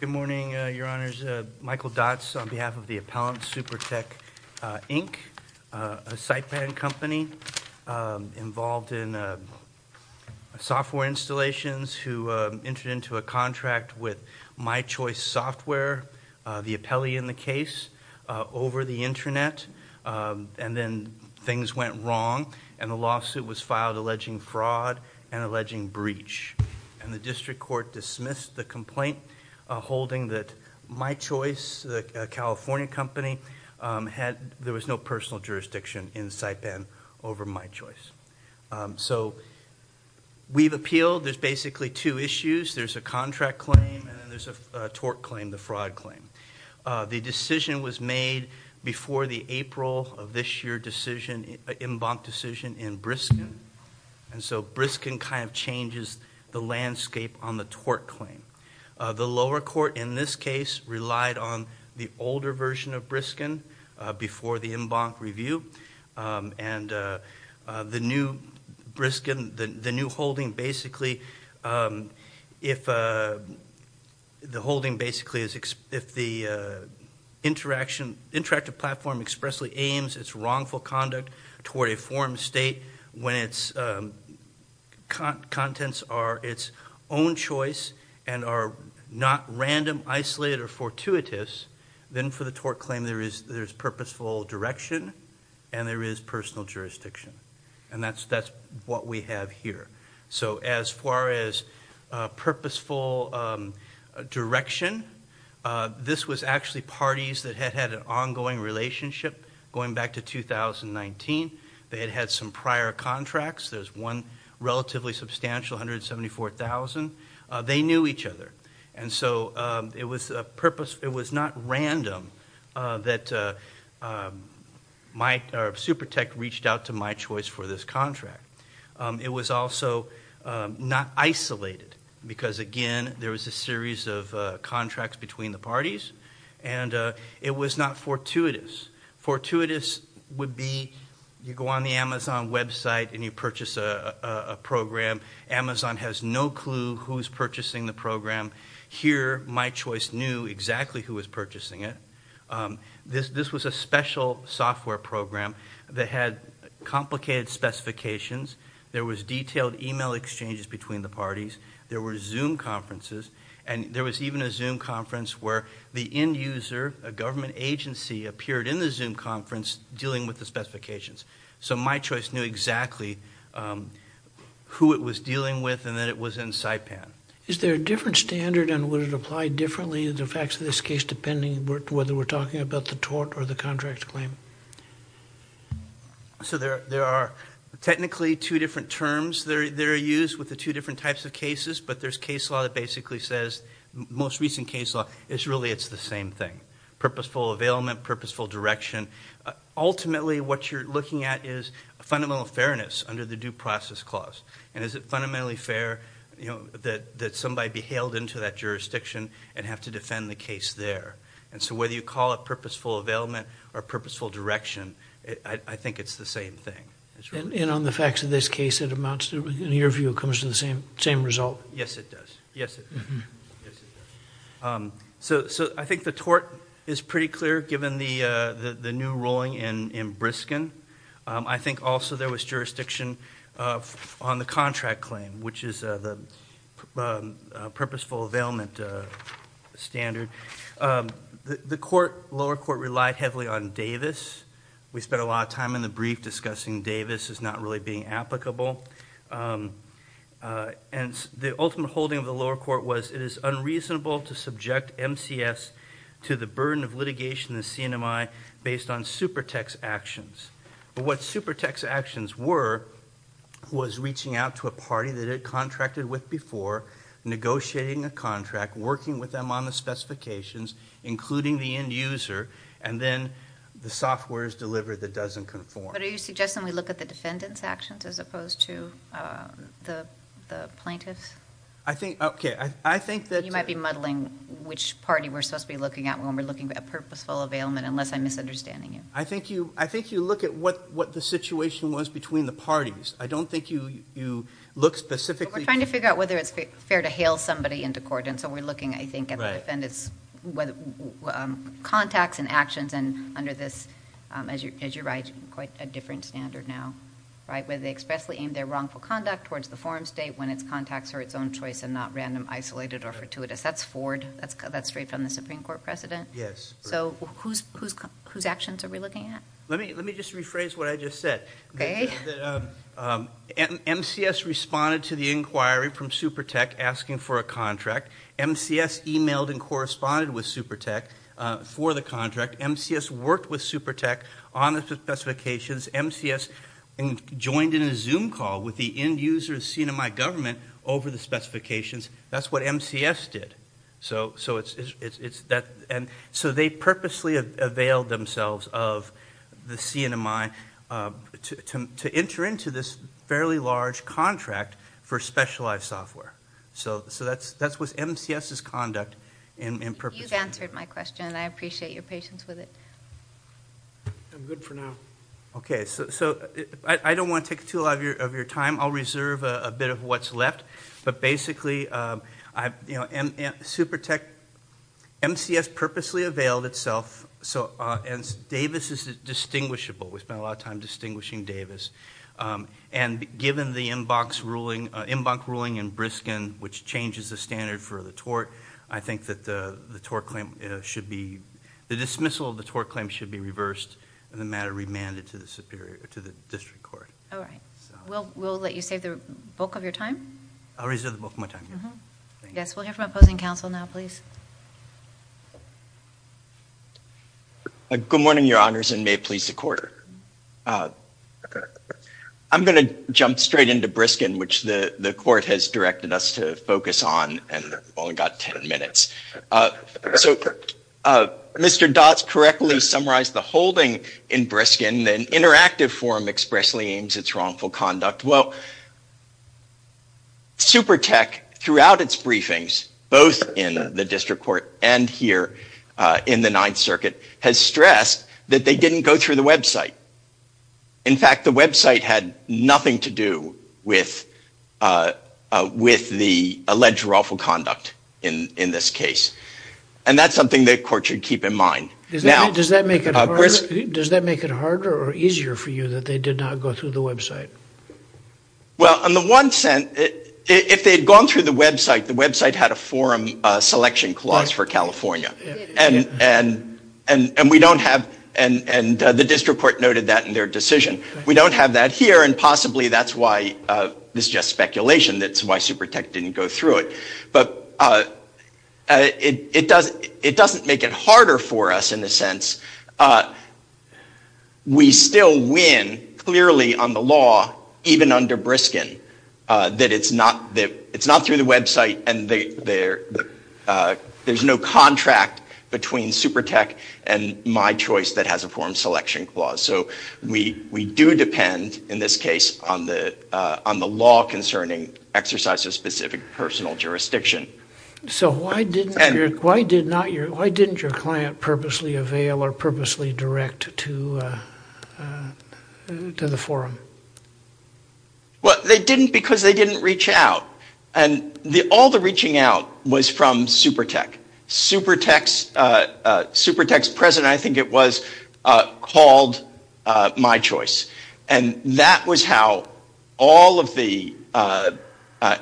Good morning, Your Honors. Michael Dotz on behalf of the appellant, Supertech, Inc., a site-man company involved in software installations who entered into a contract with My Choice Software, the appellee in the case, over the internet. And then things went wrong and the lawsuit was filed alleging fraud and alleging breach. And the district court dismissed the complaint. Holding that My Choice, a California company, there was no personal jurisdiction in Siteband over My Choice. So we've appealed. There's basically two issues. There's a contract claim and then there's a tort claim, the fraud claim. The decision was made before the April of this year decision, an embankment decision in Briskin. And so Briskin kind of changes the landscape on the tort claim. The lower court in this case relied on the older version of Briskin before the embankment review. And the new Briskin, the new holding basically, if the holding basically is, if the interaction, interactive platform expressly aims its wrongful conduct toward a form state when its contents are its own choice and are not random, isolated, or fortuitous, then for the tort claim there is purposeful direction and there is personal jurisdiction. And that's what we have here. So as far as purposeful direction, this was actually parties that had had an ongoing relationship going back to 2019. They had had some prior contracts. There's one relatively substantial, $174,000. They knew each other. And so it was a purpose, it was not random that Supertech reached out to My Choice for this contract. It was also not isolated, because again there was a series of contracts between the parties. And it was not fortuitous. Fortuitous would be you go on the Amazon website and you purchase a program. Amazon has no clue who's purchasing the program. Here My Choice knew exactly who was purchasing it. This was a special software program that had complicated specifications. There was detailed email exchanges between the parties. There were Zoom conferences. And there was even a Zoom conference where the end user, a government agency, appeared in the Zoom conference dealing with the specifications. So My Choice knew exactly who it was dealing with and that it was in SIPAN. Is there a different standard and would it apply differently in the facts of this case depending whether we're talking about the tort or the contract claim? So there are technically two different terms that are used with the two different types of cases. But there's case law that basically says, most recent case law, it's really it's the same thing. Purposeful availment, purposeful direction. Ultimately what you're looking at is fundamental fairness under the due process clause. And is it fundamentally fair that somebody be hailed into that jurisdiction and have to defend the case there. And so whether you call it purposeful availment or purposeful direction, I think it's the same thing. And on the facts of this case, it amounts to, in your view, it comes to the same result? Yes, it does. Yes, it does. So I think the tort is pretty clear given the new ruling in Briskin. I think also there was jurisdiction on the contract claim, which is the purposeful availment standard. The lower court relied heavily on Davis. We spent a lot of time in the brief discussing Davis as not really being applicable. And the ultimate holding of the lower court was it is unreasonable to subject MCS to the burden of litigation in the CNMI based on supertex actions. But what supertex actions were, was reaching out to a party that contracted with before, negotiating a contract, working with them on the specifications, including the end user, and then the software is delivered that doesn't conform. But are you suggesting we look at the defendant's actions as opposed to the plaintiff's? I think, okay, I think that... You might be muddling which party we're supposed to be looking at when we're looking at purposeful availment, unless I'm misunderstanding you. I think you look at what the situation was between the parties. I don't think you look specifically... We're trying to figure out whether it's fair to hail somebody into court. And so we're looking, I think, at the defendant's contacts and actions. And under this, as you're right, quite a different standard now. Whether they expressly aim their wrongful conduct towards the forum state when its contacts are its own choice and not random, isolated, or fortuitous. That's Ford. That's straight from the Supreme Court precedent. Yes. So whose actions are we looking at? Let me just rephrase what I just said. Okay. MCS responded to the inquiry from SuperTek asking for a contract. MCS emailed and corresponded with SuperTek for the contract. MCS worked with SuperTek on the specifications. MCS joined in a Zoom call with the end-user CNMI government over the specifications. That's what MCS did. So they purposely availed themselves of the CNMI to enter into this fairly large contract for specialized software. So that's what MCS's conduct and purpose... You've answered my question. I appreciate your patience with it. I'm good for now. Okay. So I don't want to take too a lot of your time. I'll reserve a bit of what's left. But basically, SuperTek... MCS purposely availed itself. And Davis is distinguishable. We spent a lot of time distinguishing Davis. And given the inbox ruling in Briskin, which changes the standard for the tort, I think that the dismissal of the tort claim should be reversed and the matter remanded to the district court. All right. We'll let you save the bulk of your time. I'll reserve the bulk of my time. Yes. We'll hear from opposing counsel now, please. Good morning, your honors, and may it please the court. I'm going to jump straight into Briskin, which the court has directed us to focus on, and we've only got 10 minutes. So Mr. Dotz correctly summarized the holding in Briskin. An interactive form expressly aims its wrongful conduct. Well, SuperTek, throughout its briefings, both in the district court and in the 9th Circuit, has stressed that they didn't go through the website. In fact, the website had nothing to do with the alleged wrongful conduct in this case. And that's something the court should keep in mind. Does that make it harder or easier for you that they did not go through the website? Well, on the one hand, if they had gone through the website, the website had a forum selection clause for California, and the district court noted that in their decision. We don't have that here, and possibly that's why, this is just speculation, that's why SuperTek didn't go through it. But it doesn't make it harder for us in a sense. We still win, clearly, on the law, even under Briskin, that it's not through the website, and there's no contract between SuperTek and my choice that has a forum selection clause. So we do depend, in this case, on the law concerning exercise of specific personal jurisdiction. So why didn't your client purposely avail or purposely direct to the forum? Well, they didn't because they didn't reach out, and all the reaching out was from SuperTek. SuperTek's president, I think it was, called my choice, and that was how all of the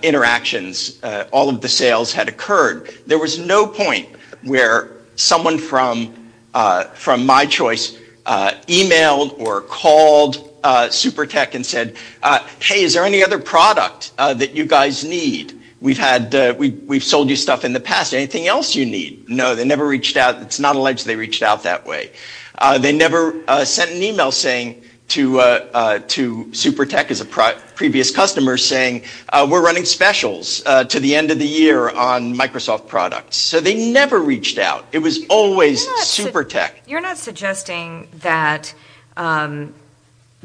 interactions, all of the sales had occurred. There was no point where someone from my choice emailed or called SuperTek and said, hey, is there any other product that you guys need? We've sold you stuff in the past, anything else you need? No, they never reached out. It's not alleged they reached out that way. They never sent an email saying to SuperTek as a previous customer saying, we're running specials to the end of the year on Microsoft products. So they never reached out. It was always SuperTek. You're not suggesting that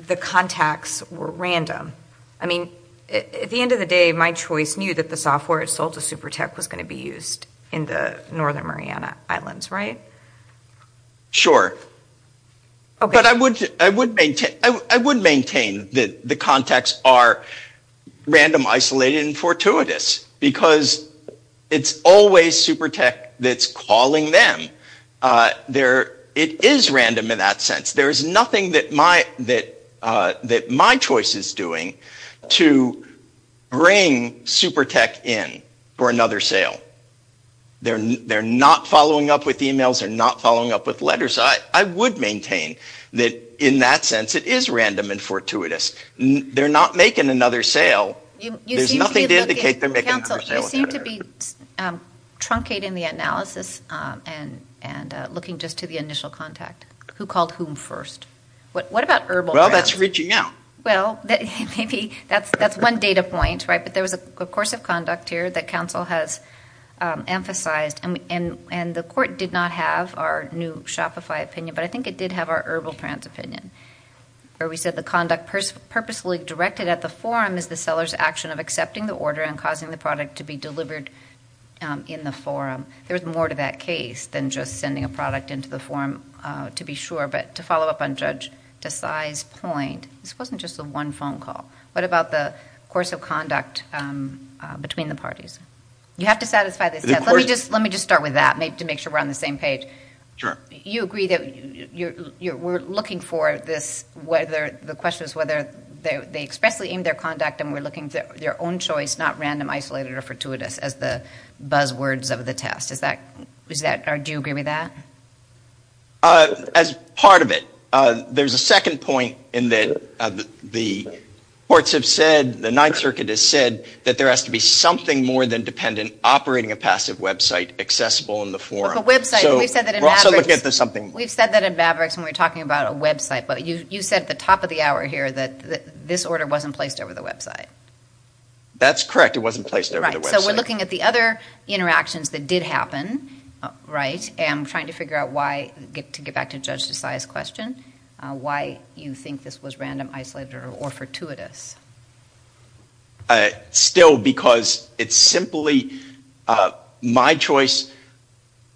the contacts were random. I mean, at the end of the day, my choice knew that the software it sold to SuperTek was going to be used in the Northern Mariana Islands, right? Sure, but I would maintain that the contacts are random, isolated, and fortuitous because it's always SuperTek that's calling them. There it is random in that sense. There is nothing that my choice is doing to bring SuperTek in for another sale. They're not following up with emails. They're not following up with letters. So I would maintain that in that sense, it is random and fortuitous. They're not making another sale. There's nothing to indicate they're making another sale. You seem to be truncating the analysis and looking just to the initial contact. Who called whom first? What about Herbal Trans? Well, that's reaching out. Well, maybe that's one data point, right? But there was a course of conduct here that counsel has emphasized, and the court did not have our new Shopify opinion, but I think it did have our Herbal Trans opinion, where we said the conduct purposefully directed at the forum is the seller's action of accepting the order and causing the product to be delivered in the forum. There was more to that case than just sending a product into the forum, to be sure. But to follow up on Judge Desai's point, this wasn't just the one phone call. What about the course of conduct between the parties? You have to satisfy this test. Let me just start with that to make sure we're on the same page. Sure. You agree that we're looking for this, the question is whether they expressly aimed their conduct and we're looking for their own choice, not random, isolated, or fortuitous, as the buzzwords of the test. Do you agree with that? As part of it, there's a second point in that the courts have said, the Ninth Circuit has said, that there has to be something more than dependent operating a passive website accessible in the forum. Of a website. We've said that in Mavericks. We've said that in Mavericks when we're talking about a website, but you said at the top of the hour here that this order wasn't placed over the website. That's correct. It wasn't placed over the website. So we're looking at the other interactions that did happen, right? And I'm trying to figure out why, to get back to Judge Desai's question, why you think this was random, isolated, or fortuitous. Still, because it's simply my choice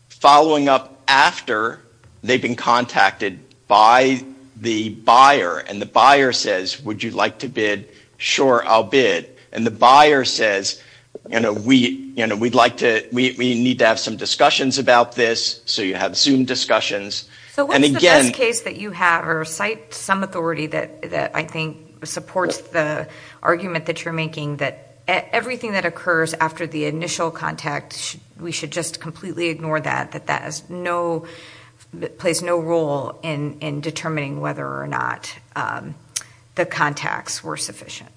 following up after they've been contacted by the buyer. And the buyer says, would you like to bid? Sure, I'll bid. And the buyer says, we need to have some discussions about this. So you have Zoom discussions. So what is the best case that you have, or cite some authority that I think supports the argument that you're making that everything that occurs after the initial contact, we should just completely ignore that. That plays no role in determining whether or not the contacts were sufficient.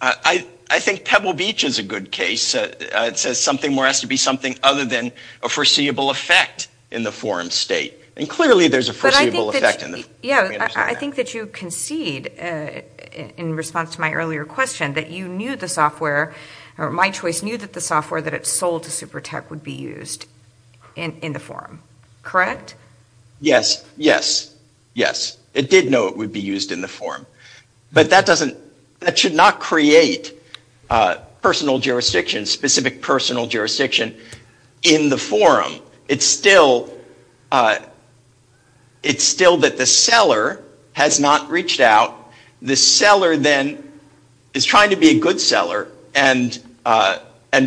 I think Pebble Beach is a good case. It says something has to be something other than a foreseeable effect in the forum state. And clearly, there's a foreseeable effect in the forum state. Yeah, I think that you concede, in response to my earlier question, that you knew the software, or my choice, that the software that it sold to SuperTech would be used in the forum, correct? Yes, yes, yes. It did know it would be used in the forum. But that doesn't, that should not create personal jurisdiction, specific personal jurisdiction in the forum. It's still, it's still that the seller has not reached out. The seller then is trying to be a good seller. And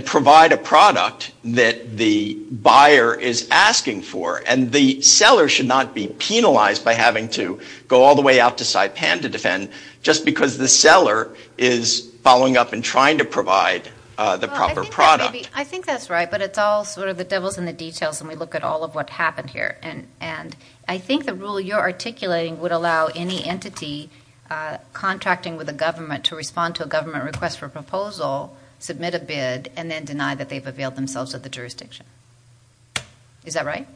provide a product that the buyer is asking for. And the seller should not be penalized by having to go all the way out to Saipan to defend, just because the seller is following up and trying to provide the proper product. I think that's right. But it's all sort of the devil's in the details. And we look at all of what happened here. And I think the rule you're articulating would allow any entity contracting with a government to respond to a government request for a proposal, submit a bid, and then deny that they've availed themselves of the jurisdiction. Is that right?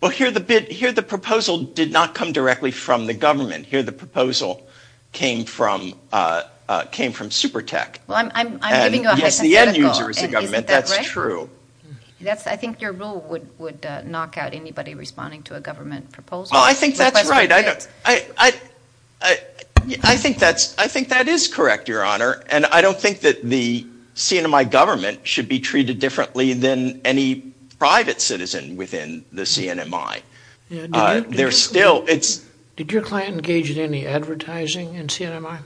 Well, here the bid, here the proposal did not come directly from the government. Here the proposal came from, came from SuperTech. Well, I'm giving you a hypothetical. Yes, the end user is the government, that's true. That's, I think your rule would knock out anybody responding to a government proposal. Well, I think that's right. I think that's, I think that is correct, Your Honor. And I don't think that the CNMI government should be treated differently than any private citizen within the CNMI. They're still, it's... Did your client engage in any advertising in CNMI?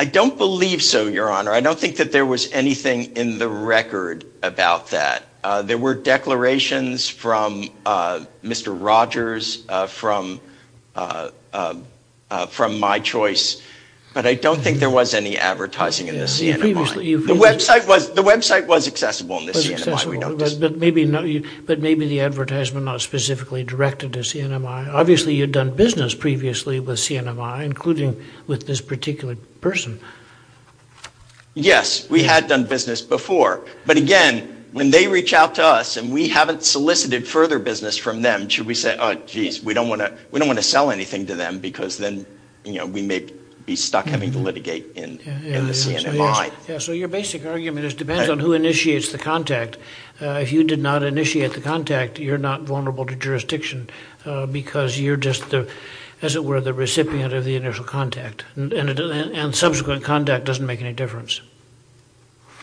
I don't believe so, Your Honor. I don't think that there was anything in the record about that. There were declarations from Mr. Rogers, from MyChoice, but I don't think there was any advertising in the CNMI. The website was, the website was accessible in the CNMI, we noticed. But maybe not, but maybe the advertisement not specifically directed to CNMI. Obviously, you'd done business previously with CNMI, including with this particular person. Yes, we had done business before. But again, when they reach out to us, and we haven't solicited further business from them, should we say, oh, geez, we don't want to sell anything to them, because then, you know, we may be stuck having to litigate in the CNMI. Yeah, so your basic argument is, depends on who initiates the contact. If you did not initiate the contact, you're not vulnerable to jurisdiction, because you're just, as it were, the recipient of the initial contact. And subsequent contact doesn't make any difference.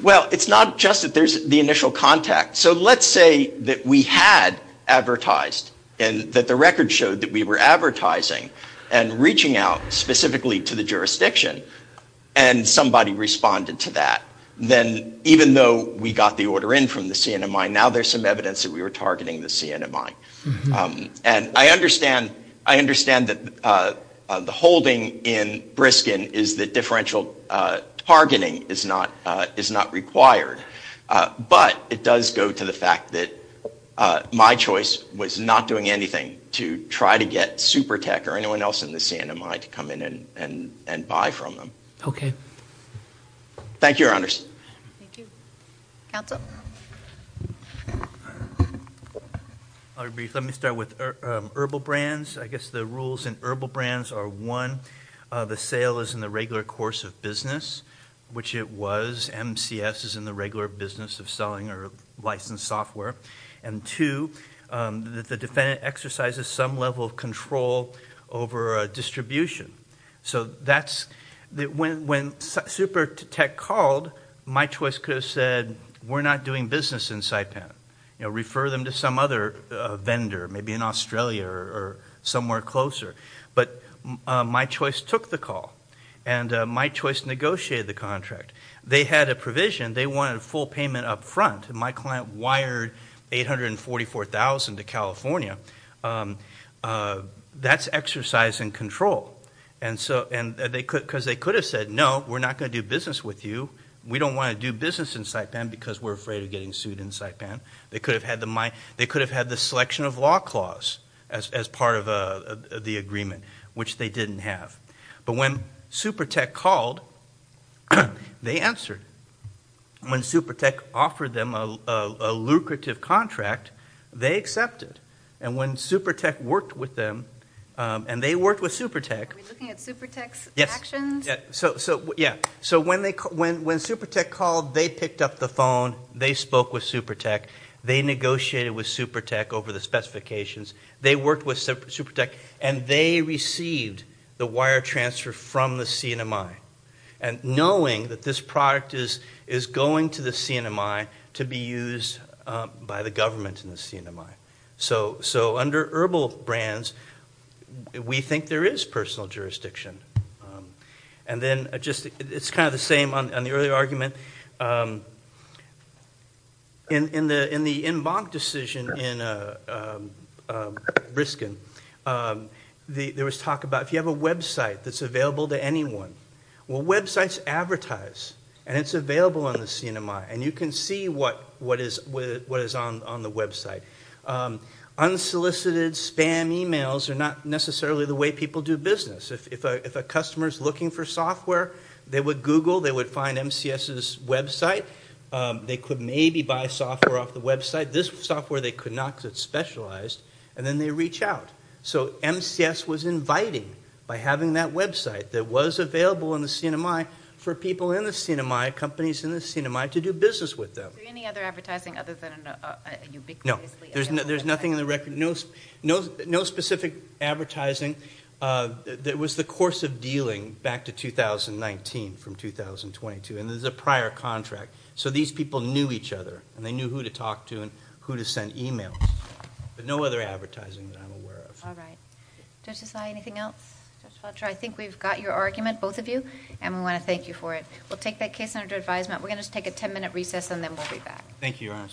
Well, it's not just that there's the initial contact. So let's say that we had advertised, and that the record showed that we were advertising and reaching out specifically to the jurisdiction, and somebody responded to that. Then, even though we got the order in from the CNMI, now there's some evidence that we were targeting the CNMI. And I understand, I understand that the holding in Briskin is that differential targeting is not required. But it does go to the fact that my choice was not doing anything to try to get SuperTech or anyone else in the CNMI to come in and buy from them. Okay. Thank you, Your Honors. Thank you. Counsel? Let me start with herbal brands. I guess the rules in herbal brands are, one, the sale is in the regular course of business, which it was. MCS is in the regular business of selling or licensed software. And two, the defendant exercises some level of control over distribution. So that's, when SuperTech called, my choice could have said, we're not doing business in Saipan. You know, refer them to some other vendor, maybe in Australia or somewhere closer. But my choice took the call. And my choice negotiated the contract. They had a provision. They wanted a full payment up front. My client wired $844,000 to California. That's exercising control. And so, and they could, because they could have said, no, we're not going to do business with you. We don't want to do business in Saipan because we're afraid of getting sued in Saipan. They could have had the, they could have had the selection of law clause as part of the agreement, which they didn't have. But when SuperTech called, they answered. When SuperTech offered them a lucrative contract, they accepted. And when SuperTech worked with them, and they worked with SuperTech. Are we looking at SuperTech's actions? Yes. So, yeah. So when SuperTech called, they picked up the phone. They spoke with SuperTech. They negotiated with SuperTech over the specifications. They worked with SuperTech, and they received the wire transfer from the CNMI. And knowing that this product is going to the CNMI to be used by the government in the CNMI. So under Herbal Brands, we think there is personal jurisdiction. And then just, it's kind of the same on the earlier argument. In the en banc decision in Briskin, there was talk about if you have a website that's available to anyone. Well, websites advertise, and it's available on the CNMI. And you can see what is on the website. Unsolicited spam emails are not necessarily the way people do business. If a customer's looking for software, they would Google. They would find MCS's website. They could maybe buy software off the website. This software, they could not because it's specialized. And then they reach out. So MCS was inviting by having that website that was available in the CNMI for people in the CNMI, companies in the CNMI to do business with them. So any other advertising other than a ubiquitously available website? No, there's nothing in the record. No specific advertising. There was the course of dealing back to 2019 from 2022. And there's a prior contract. So these people knew each other. And they knew who to talk to and who to send emails. But no other advertising that I'm aware of. All right. Judge Desai, anything else? Judge Fletcher, I think we've got your argument, both of you. And we want to thank you for it. We'll take that case under advisement. We're going to take a 10-minute recess, and then we'll be back. Thank you, Your Honor.